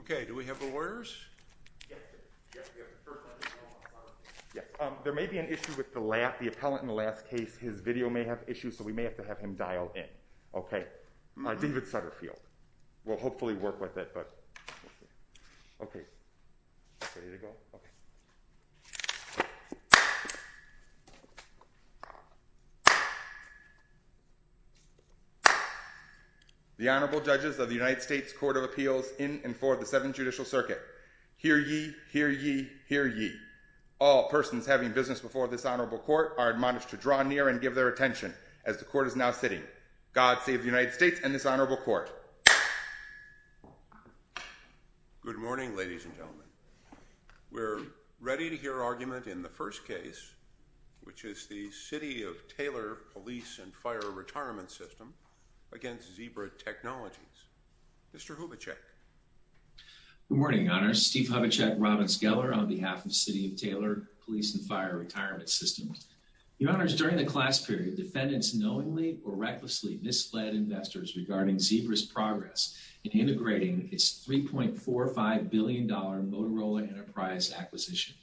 Okay, do we have the lawyers? There may be an issue with the appellant in the last case. His video may have issues, so we may have to have him dial in. Okay, David Sutterfield. We'll hopefully work with it. The Honorable Judges of the United States Court of Appeals in and for the Seventh Judicial Circuit. Hear ye, hear ye, hear ye. All persons having business before this honorable court are admonished to draw near and give their attention as the court is now sitting. God save the United States and this honorable court. Good morning, ladies and gentlemen. We're ready to hear argument in the first case, which is the City of Taylor Police and Fire Retirement System v. Zebra Technologies. Mr. Hubachek. Good morning, Your Honors. Steve Hubachek, Robbins Geller on behalf of the City of Taylor Police and Fire Retirement System. Your Honors, during the class period, defendants knowingly or recklessly misled investors regarding Zebra's progress in integrating its $3.45 billion Motorola Enterprise acquisition.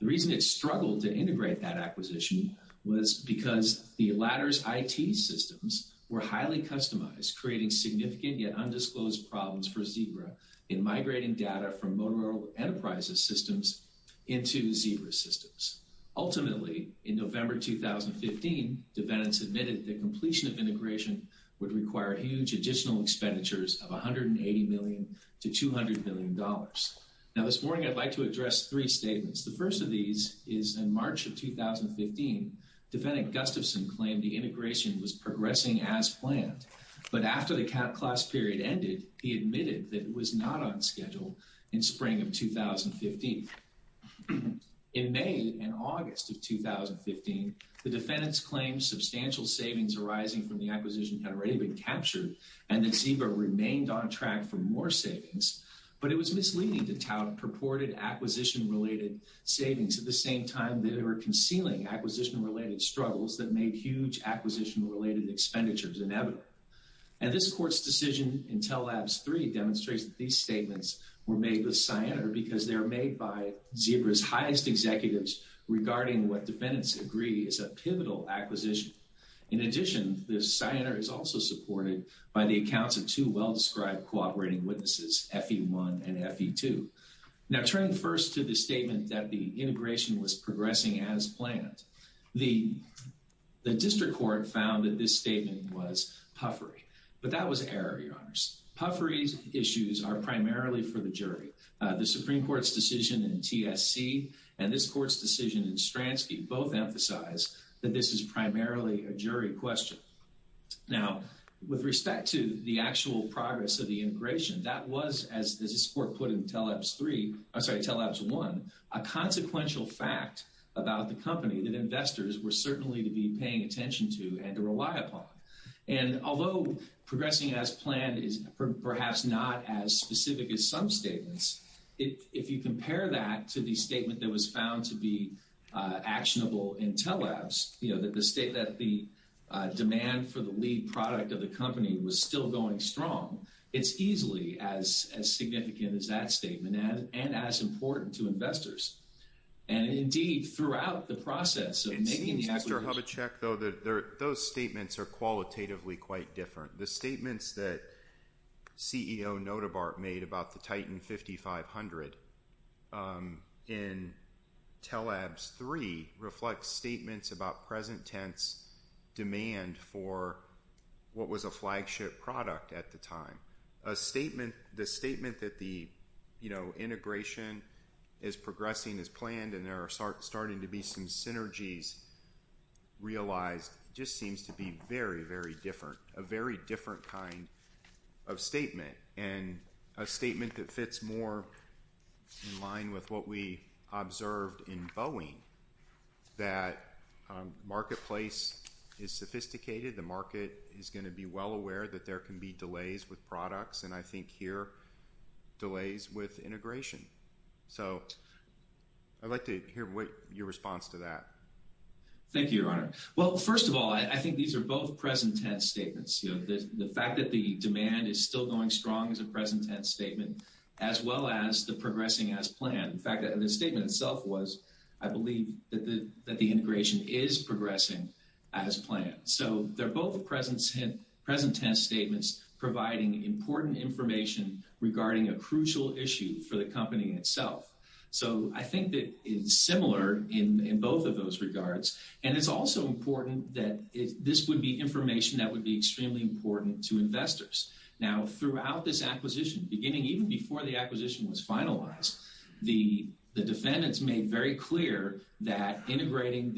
The reason it struggled to integrate that acquisition was because the latter's IT systems were highly customized, creating significant yet undisclosed problems for Zebra in migrating data from Motorola Enterprise's systems into Zebra's systems. Ultimately, in November 2015, defendants admitted that completion of integration would require huge additional expenditures of $180 million to $200 million. Now this morning, I'd like to address three statements. The first of these is in March of 2015, defendant Gustafson claimed the integration was progressing as planned. But after the class period ended, he admitted that it was not on schedule in spring of 2015. In May and August of 2015, the defendants claimed substantial savings arising from the acquisition had already been captured and that Zebra remained on track for more savings. But it was misleading to tout purported acquisition-related savings at the same time that they were concealing acquisition-related struggles that made huge acquisition-related expenditures inevitable. And this court's decision in Tell Labs 3 demonstrates that these statements were made with cyanide because they were made by Zebra's highest executives regarding what defendants agree is a pivotal acquisition. In addition, the cyanide is also supported by the accounts of two well-described cooperating witnesses, FE1 and FE2. Now turning first to the statement that the integration was progressing as planned, the district court found that this statement was puffery. But that was error, Your Honors. Puffery issues are primarily for the jury. The Supreme Court's decision in TSC and this court's decision in Stransky both emphasize that this is primarily a jury question. Now, with respect to the actual progress of the integration, that was, as this court put in Tell Labs 1, a consequential fact about the company that investors were certainly to be paying attention to and to rely upon. And although progressing as planned is perhaps not as specific as some statements, if you compare that to the statement that was found to be actionable in Tell Labs, you know, that the demand for the lead product of the company was still going strong, it's easily as significant as that statement and as important to investors. And indeed, throughout the process of making the acquisition… It seems, Mr. Hubachek, though, that those statements are qualitatively quite different. The statements that CEO Notabart made about the Titan 5500 in Tell Labs 3 reflect statements about present tense demand for what was a flagship product at the time. A statement, the statement that the, you know, integration is progressing as planned and there are starting to be some synergies realized just seems to be very, very different, a very different kind of statement. And a statement that fits more in line with what we observed in Boeing, that marketplace is sophisticated, the market is going to be well aware that there can be delays with products, and I think here, delays with integration. So, I'd like to hear your response to that. Well, first of all, I think these are both present tense statements. You know, the fact that the demand is still going strong is a present tense statement, as well as the progressing as planned. In fact, the statement itself was, I believe, that the integration is progressing as planned. So, they're both present tense statements providing important information regarding a crucial issue for the company itself. So, I think that it's similar in both of those regards. And it's also important that this would be information that would be extremely important to investors. Now, throughout this acquisition, beginning even before the acquisition was finalized, the defendants made very clear that integrating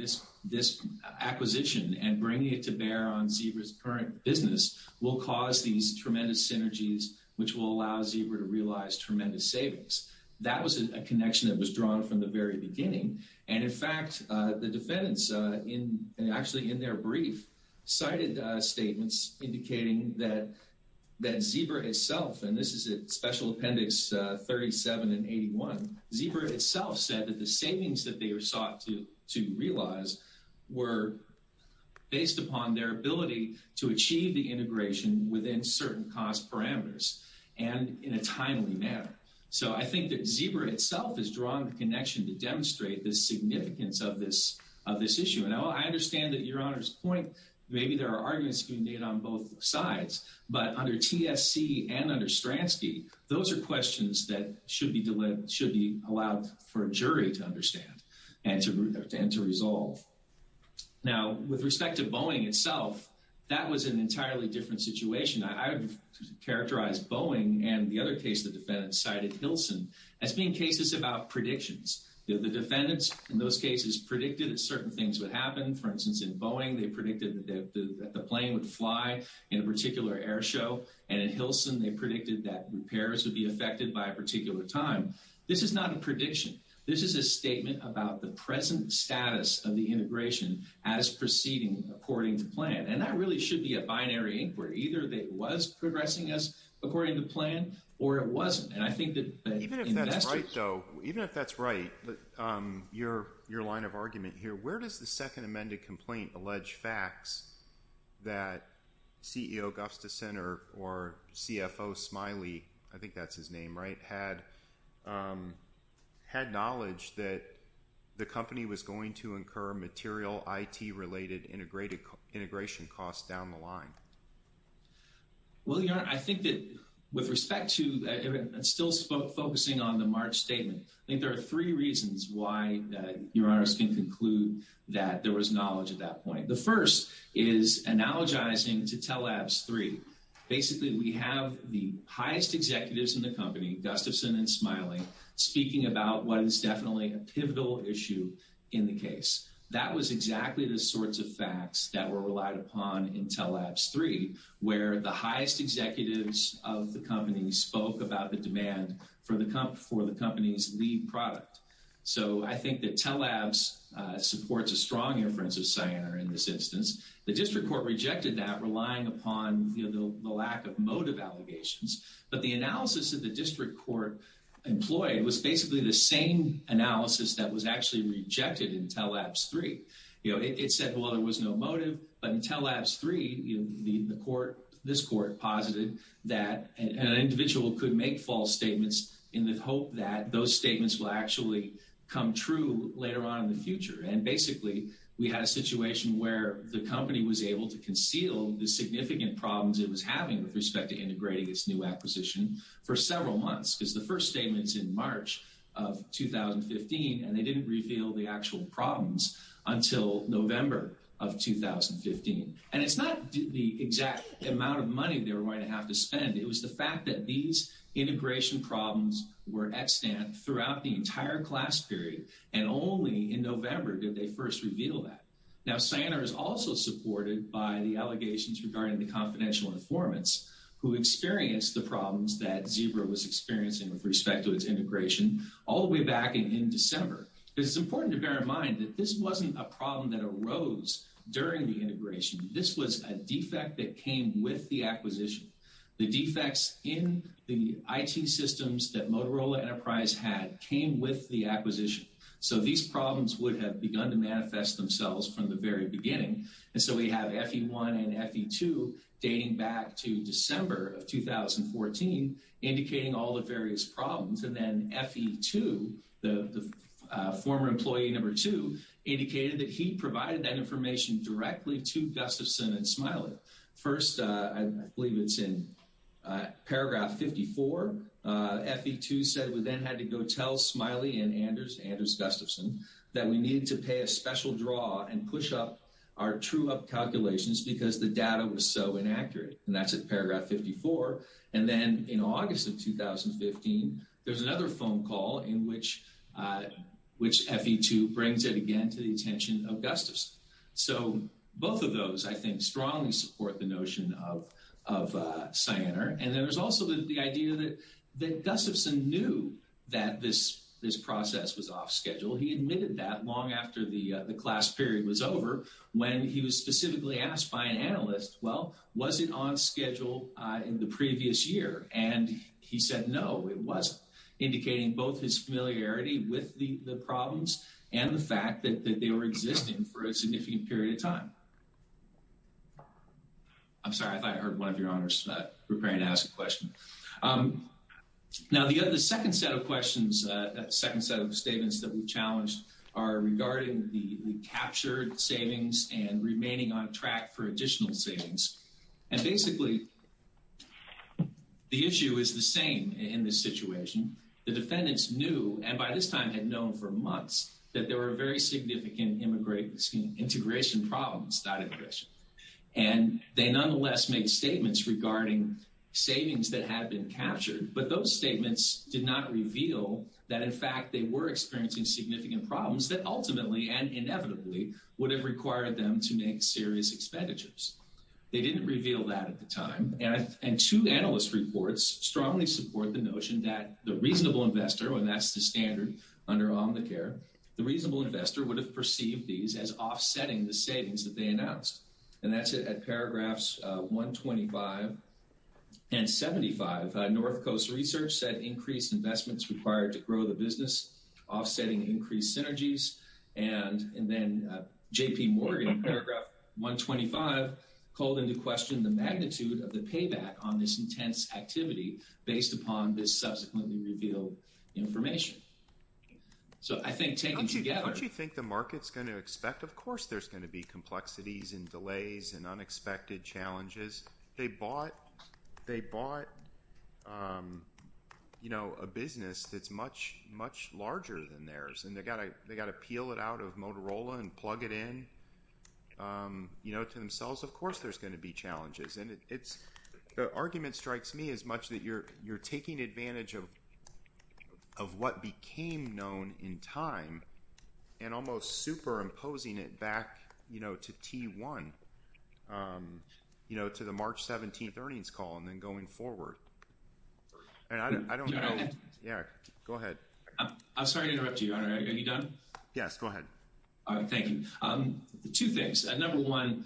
this acquisition and bringing it to bear on Zebra's current business will cause these tremendous synergies, which will allow Zebra to realize tremendous savings. That was a connection that was drawn from the very beginning. And, in fact, the defendants, actually in their brief, cited statements indicating that Zebra itself, and this is at Special Appendix 37 and 81, Zebra itself said that the savings that they sought to realize were based upon their ability to achieve the integration within certain cost parameters and in a timely manner. So, I think that Zebra itself is drawing the connection to demonstrate the significance of this issue. And I understand that Your Honor's point, maybe there are arguments being made on both sides. But under TSC and under Stransky, those are questions that should be allowed for a jury to understand and to resolve. Now, with respect to Boeing itself, that was an entirely different situation. I would characterize Boeing and the other case the defendants cited, Hilson, as being cases about predictions. The defendants in those cases predicted that certain things would happen. For instance, in Boeing, they predicted that the plane would fly in a particular air show. And in Hilson, they predicted that repairs would be affected by a particular time. This is not a prediction. This is a statement about the present status of the integration as proceeding according to plan. And that really should be a binary inquiry. Either it was progressing as according to plan or it wasn't. And I think that investors— Even if that's right, though, even if that's right, your line of argument here, where does the second amended complaint allege facts that CEO Gustafson or CFO Smiley, I think that's his name, right, had knowledge that the company was going to incur material IT-related integration costs down the line? Well, your Honor, I think that with respect to—and still focusing on the March statement, I think there are three reasons why, your Honor, I was going to conclude that there was knowledge at that point. The first is analogizing to Tell Labs 3. Basically, we have the highest executives in the company, Gustafson and Smiley, speaking about what is definitely a pivotal issue in the case. That was exactly the sorts of facts that were relied upon in Tell Labs 3, where the highest executives of the company spoke about the demand for the company's lead product. So I think that Tell Labs supports a strong inference of Cyanar in this instance. The district court rejected that, relying upon the lack of motive allegations. But the analysis that the district court employed was basically the same analysis that was actually rejected in Tell Labs 3. It said, well, there was no motive. But in Tell Labs 3, this court posited that an individual could make false statements in the hope that those statements will actually come true later on in the future. And basically, we had a situation where the company was able to conceal the significant problems it was having with respect to integrating its new acquisition for several months. Because the first statement is in March of 2015, and they didn't reveal the actual problems until November of 2015. And it's not the exact amount of money they were going to have to spend. It was the fact that these integration problems were extant throughout the entire class period, and only in November did they first reveal that. Now, Cyanar is also supported by the allegations regarding the confidential informants who experienced the problems that Zebra was experiencing with respect to its integration all the way back in December. It's important to bear in mind that this wasn't a problem that arose during the integration. This was a defect that came with the acquisition. The defects in the IT systems that Motorola Enterprise had came with the acquisition. So these problems would have begun to manifest themselves from the very beginning. And so we have FE1 and FE2 dating back to December of 2014, indicating all the various problems. And then FE2, the former employee number two, indicated that he provided that information directly to Gustafson and Smiley. First, I believe it's in paragraph 54. FE2 said we then had to go tell Smiley and Anders, Anders Gustafson, that we needed to pay a special draw and push up our true-up calculations because the data was so inaccurate. And that's at paragraph 54. And then in August of 2015, there's another phone call in which FE2 brings it again to the attention of Gustafson. So both of those, I think, strongly support the notion of Cyanar. And then there's also the idea that Gustafson knew that this process was off schedule. He admitted that long after the class period was over when he was specifically asked by an analyst, well, was it on schedule in the previous year? And he said no, it wasn't, indicating both his familiarity with the problems and the fact that they were existing for a significant period of time. I'm sorry, I thought I heard one of your honors preparing to ask a question. Now, the second set of questions, second set of statements that we challenged are regarding the captured savings and remaining on track for additional savings. And basically, the issue is the same in this situation. The defendants knew, and by this time had known for months, that there were very significant integration problems. And they nonetheless made statements regarding savings that had been captured. But those statements did not reveal that, in fact, they were experiencing significant problems that ultimately and inevitably would have required them to make serious expenditures. They didn't reveal that at the time. And two analyst reports strongly support the notion that the reasonable investor, and that's the standard under Omnicare, the reasonable investor would have perceived these as offsetting the savings that they announced. And that's it at paragraphs 125 and 75. North Coast Research said increased investments required to grow the business, offsetting increased synergies. And then J.P. Morgan, paragraph 125, called into question the magnitude of the payback on this intense activity based upon this subsequently revealed information. So I think taking together – Don't you think the market's going to expect, of course, there's going to be complexities and delays and unexpected challenges? They bought a business that's much, much larger than theirs, and they've got to peel it out of Motorola and plug it in to themselves. Of course there's going to be challenges. And the argument strikes me as much that you're taking advantage of what became known in time and almost superimposing it back to T1, to the March 17th earnings call and then going forward. And I don't know – Can I go ahead? Yeah, go ahead. I'm sorry to interrupt you, Your Honor. Are you done? Yes, go ahead. All right, thank you. Two things. Number one,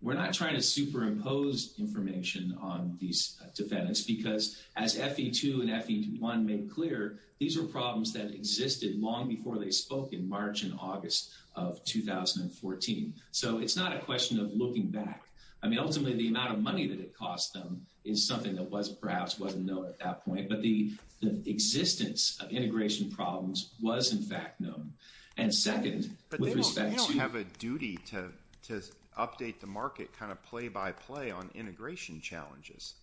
we're not trying to superimpose information on these defendants because, as FE2 and FE1 made clear, these were problems that existed long before they spoke in March and August of 2014. So it's not a question of looking back. I mean, ultimately, the amount of money that it cost them is something that was – perhaps wasn't known at that point. But the existence of integration problems was, in fact, known. And second, with respect to – But they don't have a duty to update the market kind of play by play on integration challenges.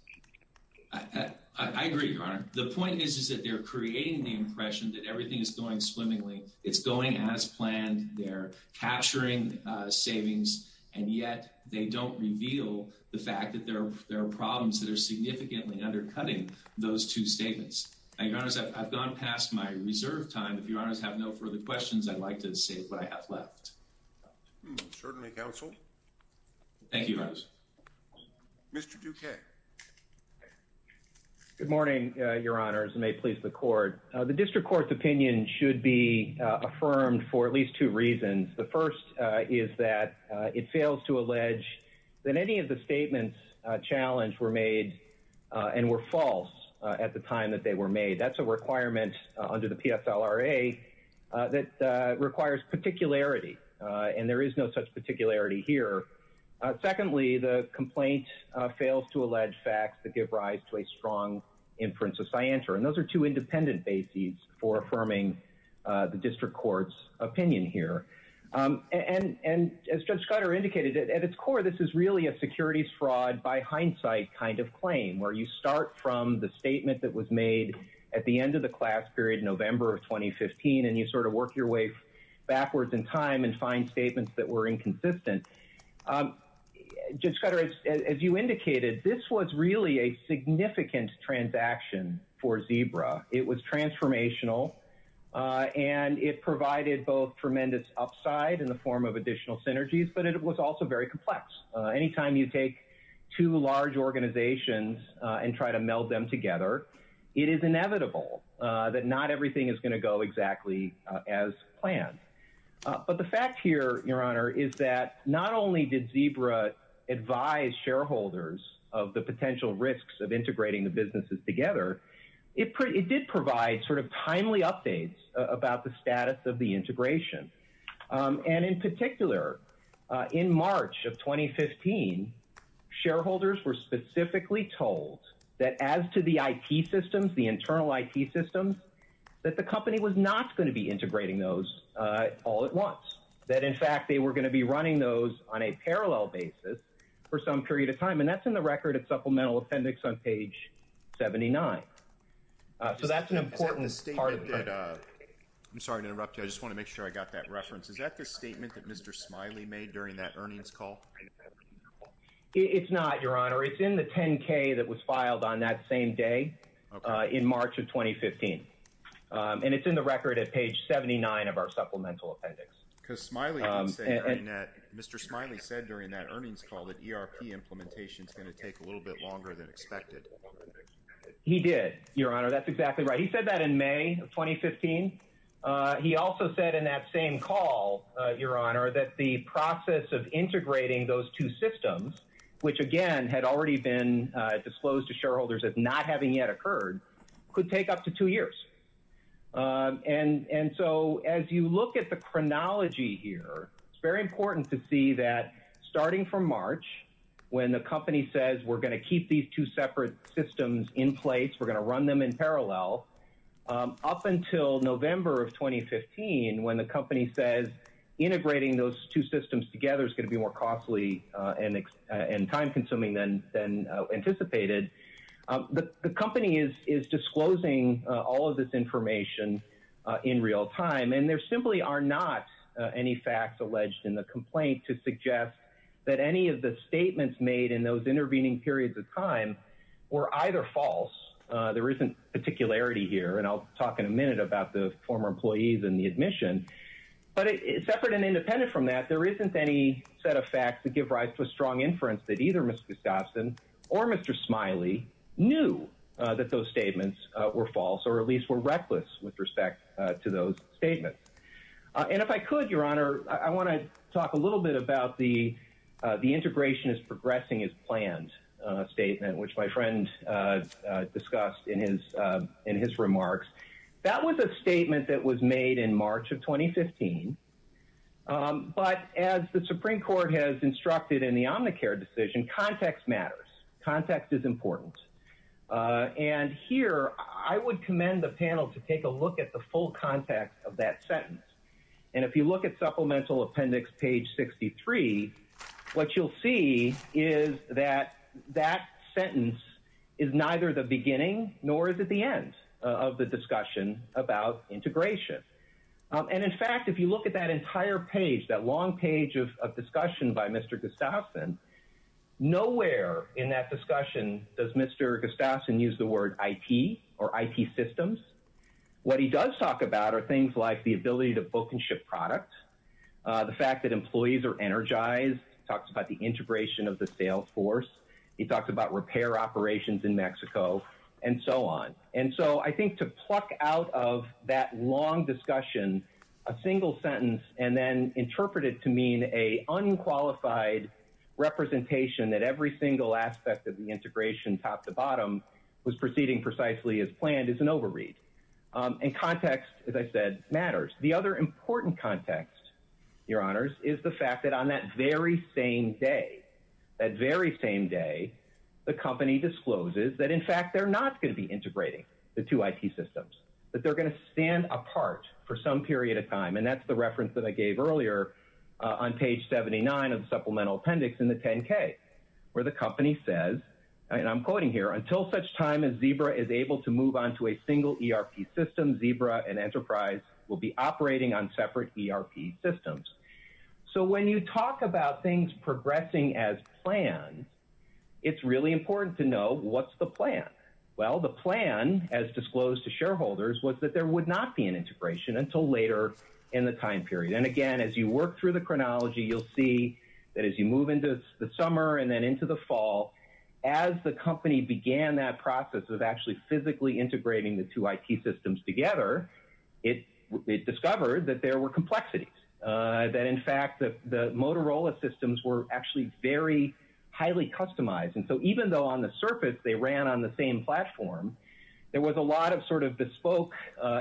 I agree, Your Honor. The point is that they're creating the impression that everything is going swimmingly. It's going as planned. They're capturing savings. And yet they don't reveal the fact that there are problems that are significantly undercutting those two statements. Your Honor, I've gone past my reserve time. If Your Honors have no further questions, I'd like to say what I have left. Certainly, counsel. Thank you, Your Honors. Mr. Duque. Good morning, Your Honors, and may it please the Court. The district court's opinion should be affirmed for at least two reasons. The first is that it fails to allege that any of the statements challenged were made and were false at the time that they were made. That's a requirement under the PSLRA that requires particularity, and there is no such particularity here. Secondly, the complaint fails to allege facts that give rise to a strong inference of scienter. And those are two independent bases for affirming the district court's opinion here. And as Judge Scudder indicated, at its core, this is really a securities fraud by hindsight kind of claim, where you start from the statement that was made at the end of the class period, November of 2015, and you sort of work your way backwards in time and find statements that were inconsistent. Judge Scudder, as you indicated, this was really a significant transaction for Zebra. It was transformational, and it provided both tremendous upside in the form of additional synergies, but it was also very complex. Anytime you take two large organizations and try to meld them together, it is inevitable that not everything is going to go exactly as planned. But the fact here, Your Honor, is that not only did Zebra advise shareholders of the potential risks of integrating the businesses together, it did provide sort of timely updates about the status of the integration. And in particular, in March of 2015, shareholders were specifically told that as to the IT systems, the internal IT systems, that the company was not going to be integrating those all at once. That, in fact, they were going to be running those on a parallel basis for some period of time, and that's in the record at Supplemental Appendix on page 79. So that's an important part of the… Is that the statement that… I'm sorry to interrupt you. I just want to make sure I got that reference. Is that the statement that Mr. Smiley made during that earnings call? It's not, Your Honor. It's in the 10-K that was filed on that same day in March of 2015. And it's in the record at page 79 of our Supplemental Appendix. Because Mr. Smiley said during that earnings call that ERP implementation is going to take a little bit longer than expected. He did, Your Honor. That's exactly right. He said that in May of 2015. He also said in that same call, Your Honor, that the process of integrating those two systems, which, again, had already been disclosed to shareholders as not having yet occurred, could take up to two years. And so as you look at the chronology here, it's very important to see that starting from March, when the company says we're going to keep these two separate systems in place, we're going to run them in parallel, up until November of 2015, when the company says integrating those two systems together is going to be more costly and time-consuming than anticipated, the company is disclosing all of this information in real time. And there simply are not any facts alleged in the complaint to suggest that any of the statements made in those intervening periods of time were either false. There isn't particularity here, and I'll talk in a minute about the former employees and the admission. But separate and independent from that, there isn't any set of facts that give rise to a strong inference that either Mr. Gustafson or Mr. Smiley knew that those statements were false, or at least were reckless with respect to those statements. And if I could, Your Honor, I want to talk a little bit about the integration is progressing as planned statement, which my friend discussed in his remarks. That was a statement that was made in March of 2015. But as the Supreme Court has instructed in the Omnicare decision, context matters. Context is important. And here, I would commend the panel to take a look at the full context of that sentence. And if you look at Supplemental Appendix Page 63, what you'll see is that that sentence is neither the beginning nor is it the end of the discussion about integration. And in fact, if you look at that entire page, that long page of discussion by Mr. Gustafson, nowhere in that discussion does Mr. Gustafson use the word IT or IT systems. What he does talk about are things like the ability to book and ship products, the fact that employees are energized, talks about the integration of the sales force, he talks about repair operations in Mexico, and so on. And so I think to pluck out of that long discussion a single sentence and then interpret it to mean an unqualified representation that every single aspect of the integration top to bottom was proceeding precisely as planned is an overread. And context, as I said, matters. The other important context, Your Honors, is the fact that on that very same day, that very same day, the company discloses that in fact they're not going to be integrating the two IT systems, that they're going to stand apart for some period of time. And that's the reference that I gave earlier on page 79 of the supplemental appendix in the 10-K, where the company says, and I'm quoting here, until such time as Zebra is able to move on to a single ERP system, Zebra and Enterprise will be operating on separate ERP systems. So when you talk about things progressing as planned, it's really important to know what's the plan. Well, the plan, as disclosed to shareholders, was that there would not be an integration until later in the time period. And again, as you work through the chronology, you'll see that as you move into the summer and then into the fall, as the company began that process of actually physically integrating the two IT systems together, it discovered that there were complexities, that in fact the Motorola systems were actually very highly customized. And so even though on the surface they ran on the same platform, there was a lot of sort of bespoke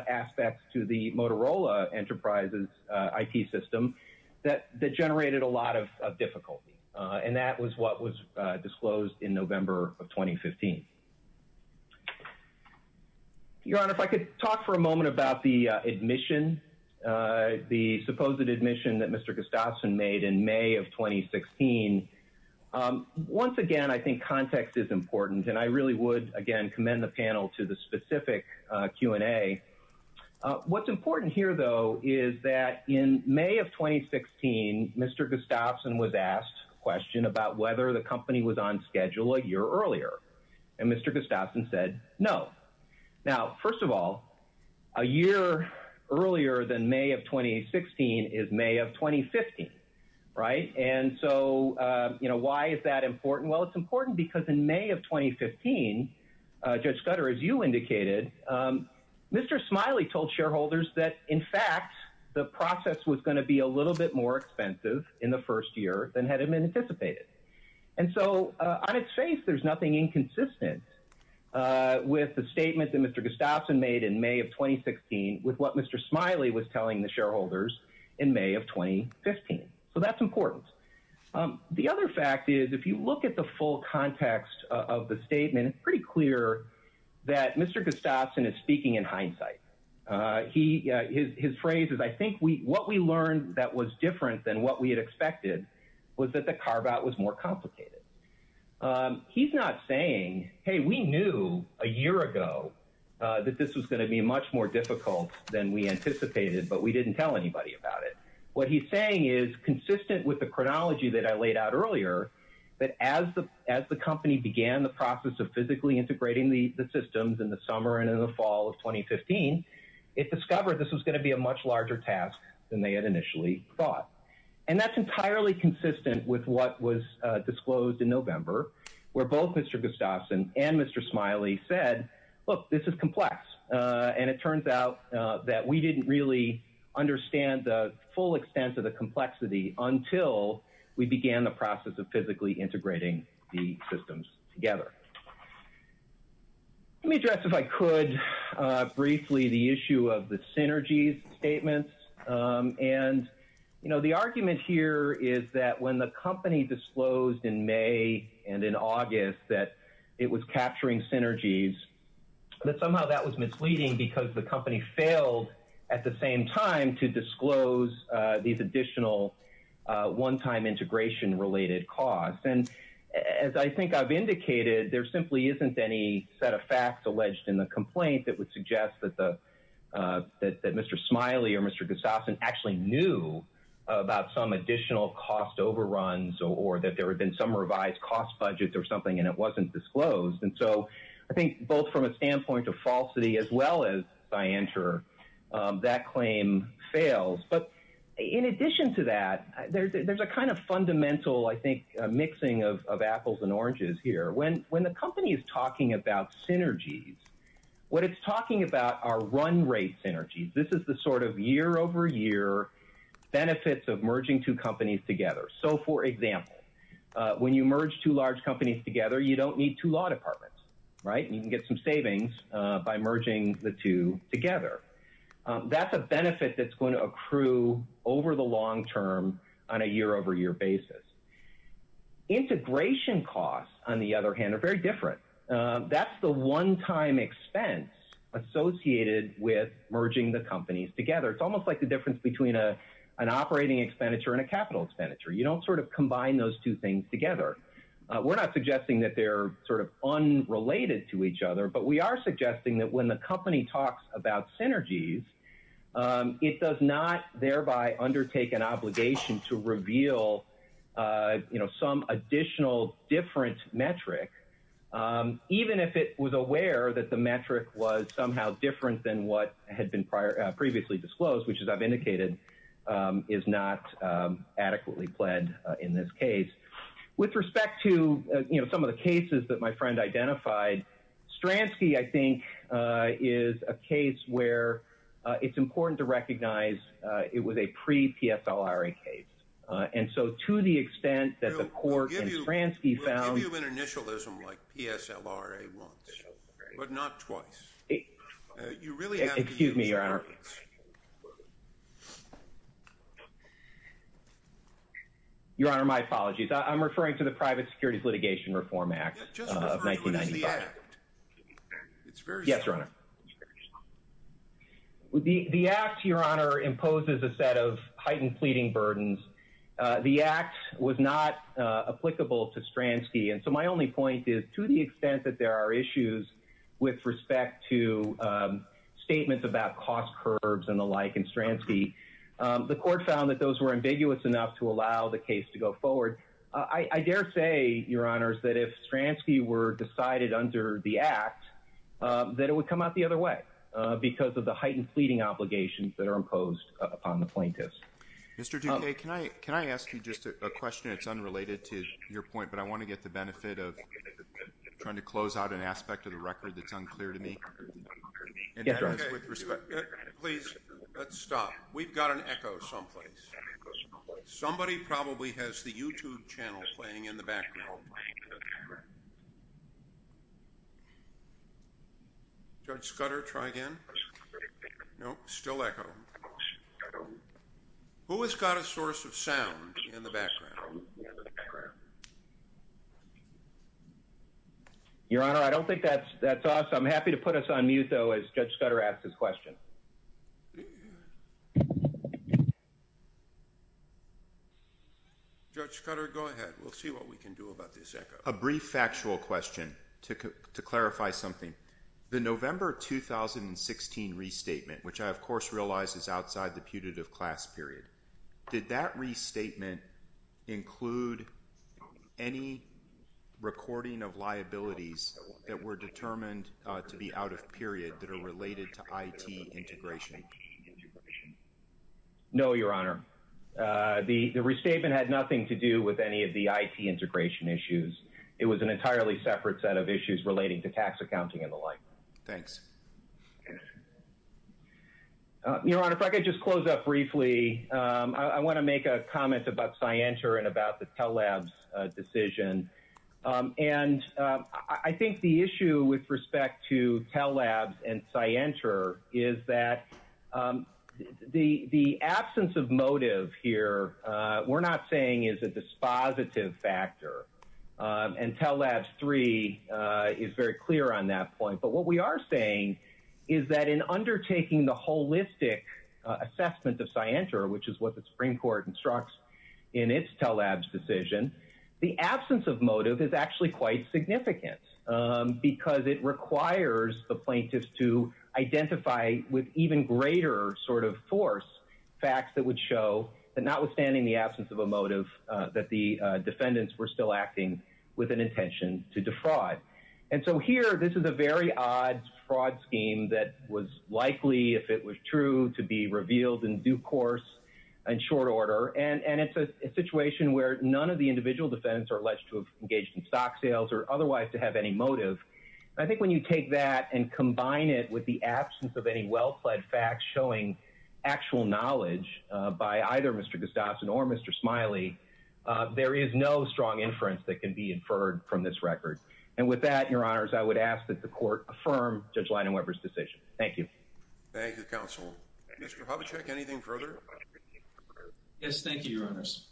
aspects to the Motorola Enterprises IT system that generated a lot of difficulty. And that was what was disclosed in November of 2015. Your Honor, if I could talk for a moment about the admission, the supposed admission that Mr. Gustafson made in May of 2016. Once again, I think context is important. And I really would, again, commend the panel to the specific Q&A. What's important here, though, is that in May of 2016, Mr. Gustafson was asked a question about whether the company was on schedule a year earlier. And Mr. Gustafson said no. Now, first of all, a year earlier than May of 2016 is May of 2015. And so why is that important? Well, it's important because in May of 2015, Judge Scudder, as you indicated, Mr. Smiley told shareholders that, in fact, the process was going to be a little bit more expensive in the first year than had been anticipated. And so on its face, there's nothing inconsistent with the statement that Mr. Gustafson made in May of 2016 with what Mr. Smiley was telling the shareholders in May of 2015. So that's important. The other fact is, if you look at the full context of the statement, it's pretty clear that Mr. Gustafson is speaking in hindsight. His phrase is, I think what we learned that was different than what we had expected was that the carve-out was more complicated. He's not saying, hey, we knew a year ago that this was going to be much more difficult than we anticipated, but we didn't tell anybody about it. What he's saying is, consistent with the chronology that I laid out earlier, that as the company began the process of physically integrating the systems in the summer and in the fall of 2015, it discovered this was going to be a much larger task than they had initially thought. And that's entirely consistent with what was disclosed in November, where both Mr. Gustafson and Mr. Smiley said, look, this is complex. And it turns out that we didn't really understand the full extent of the complexity until we began the process of physically integrating the systems together. Let me address, if I could, briefly the issue of the synergies statements. And the argument here is that when the company disclosed in May and in August that it was capturing synergies, that somehow that was misleading because the company failed at the same time to disclose these additional one-time integration-related costs. And as I think I've indicated, there simply isn't any set of facts alleged in the complaint that would suggest that Mr. Smiley or Mr. Gustafson actually knew about some additional cost overruns or that there had been some revised cost budget or something and it wasn't disclosed. And so I think both from a standpoint of falsity as well as scienter, that claim fails. But in addition to that, there's a kind of fundamental, I think, mixing of apples and oranges here. When the company is talking about synergies, what it's talking about are run-rate synergies. This is the sort of year-over-year benefits of merging two companies together. So, for example, when you merge two large companies together, you don't need two law departments, right? You can get some savings by merging the two together. That's a benefit that's going to accrue over the long term on a year-over-year basis. Integration costs, on the other hand, are very different. That's the one-time expense associated with merging the companies together. It's almost like the difference between an operating expenditure and a capital expenditure. You don't sort of combine those two things together. We're not suggesting that they're sort of unrelated to each other, but we are suggesting that when the company talks about synergies, it does not thereby undertake an obligation to reveal some additional different metric, even if it was aware that the metric was somehow different than what had been previously disclosed, which, as I've indicated, is not adequately pled in this case. With respect to, you know, some of the cases that my friend identified, Stransky, I think, is a case where it's important to recognize it was a pre-PSLRA case. And so to the extent that the court in Stransky found— We'll give you an initialism like PSLRA wants, but not twice. Excuse me, Your Honor. Your Honor, my apologies. I'm referring to the Private Securities Litigation Reform Act of 1995. Just refer to it as the Act. Yes, Your Honor. The Act, Your Honor, imposes a set of heightened pleading burdens. The Act was not applicable to Stransky. And so my only point is, to the extent that there are issues with respect to statements about cost curves and the like in Stransky, the court found that those were ambiguous enough to allow the case to go forward. I dare say, Your Honor, that if Stransky were decided under the Act, that it would come out the other way because of the heightened pleading obligations that are imposed upon the plaintiffs. Mr. Duque, can I ask you just a question? It's unrelated to your point, but I want to get the benefit of trying to close out an aspect of the record that's unclear to me. Please, let's stop. We've got an echo someplace. Somebody probably has the YouTube channel playing in the background. Judge Scudder, try again. No, still echo. Who has got a source of sound in the background? Your Honor, I don't think that's us. I'm happy to put us on mute, though, as Judge Scudder asks his question. Judge Scudder, go ahead. We'll see what we can do about this echo. A brief factual question to clarify something. The November 2016 restatement, which I, of course, realize is outside the putative class period, did that restatement include any recording of liabilities that were determined to be out of period that are related to IT integration? No, Your Honor. The restatement had nothing to do with any of the IT integration issues. It was an entirely separate set of issues relating to tax accounting and the like. Thanks. Your Honor, if I could just close up briefly. I want to make a comment about SciENTR and about the Tell Labs decision. And I think the issue with respect to Tell Labs and SciENTR is that the absence of motive here, we're not saying is a dispositive factor. And Tell Labs 3 is very clear on that point. But what we are saying is that in undertaking the holistic assessment of SciENTR, which is what the Supreme Court instructs in its Tell Labs decision, the absence of motive is actually quite significant because it requires the plaintiffs to identify with even greater sort of force facts that would show that notwithstanding the absence of a motive, that the defendants were still acting with an intention to defraud. And so here, this is a very odd fraud scheme that was likely, if it was true, to be revealed in due course and short order. And it's a situation where none of the individual defendants are alleged to have engaged in stock sales or otherwise to have any motive. I think when you take that and combine it with the absence of any well-plaid facts showing actual knowledge by either Mr. Gustafson or Mr. Smiley, there is no strong inference that can be inferred from this record. And with that, your honors, I would ask that the court affirm Judge Leidenweber's decision. Thank you. Thank you, counsel. Mr. Hovacek, anything further? Yes, thank you, your honors.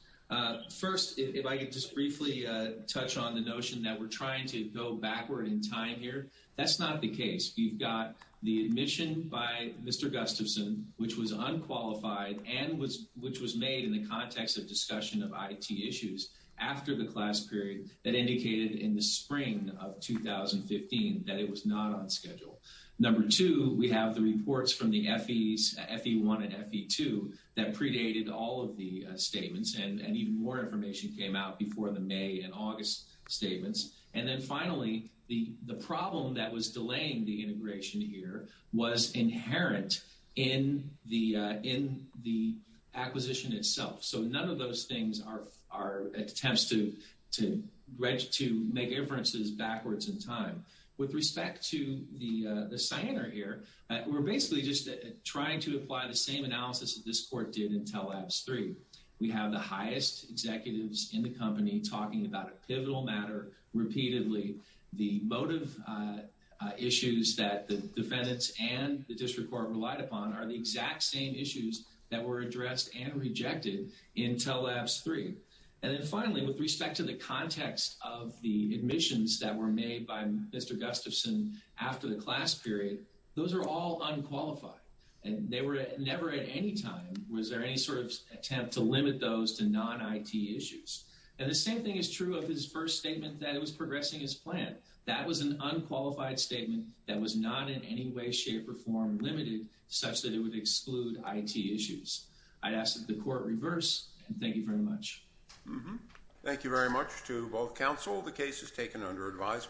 First, if I could just briefly touch on the notion that we're trying to go backward in time here. That's not the case. You've got the admission by Mr. Gustafson, which was unqualified and which was made in the context of discussion of IT issues after the class period that indicated in the spring of 2015 that it was not on schedule. Number two, we have the reports from the FEs, FE1 and FE2, that predated all of the statements. And even more information came out before the May and August statements. And then finally, the problem that was delaying the integration here was inherent in the acquisition itself. So none of those things are attempts to make inferences backwards in time. With respect to the Cyanar here, we're basically just trying to apply the same analysis that this court did in TELABS III. We have the highest executives in the company talking about a pivotal matter repeatedly. The motive issues that the defendants and the district court relied upon are the exact same issues that were addressed and rejected in TELABS III. And then finally, with respect to the context of the admissions that were made by Mr. Gustafson after the class period, those are all unqualified. And they were never at any time was there any sort of attempt to limit those to non-IT issues. And the same thing is true of his first statement that it was progressing as planned. That was an unqualified statement that was not in any way, shape, or form limited such that it would exclude IT issues. I'd ask that the court reverse, and thank you very much. Thank you very much to both counsel. The case is taken under advisement.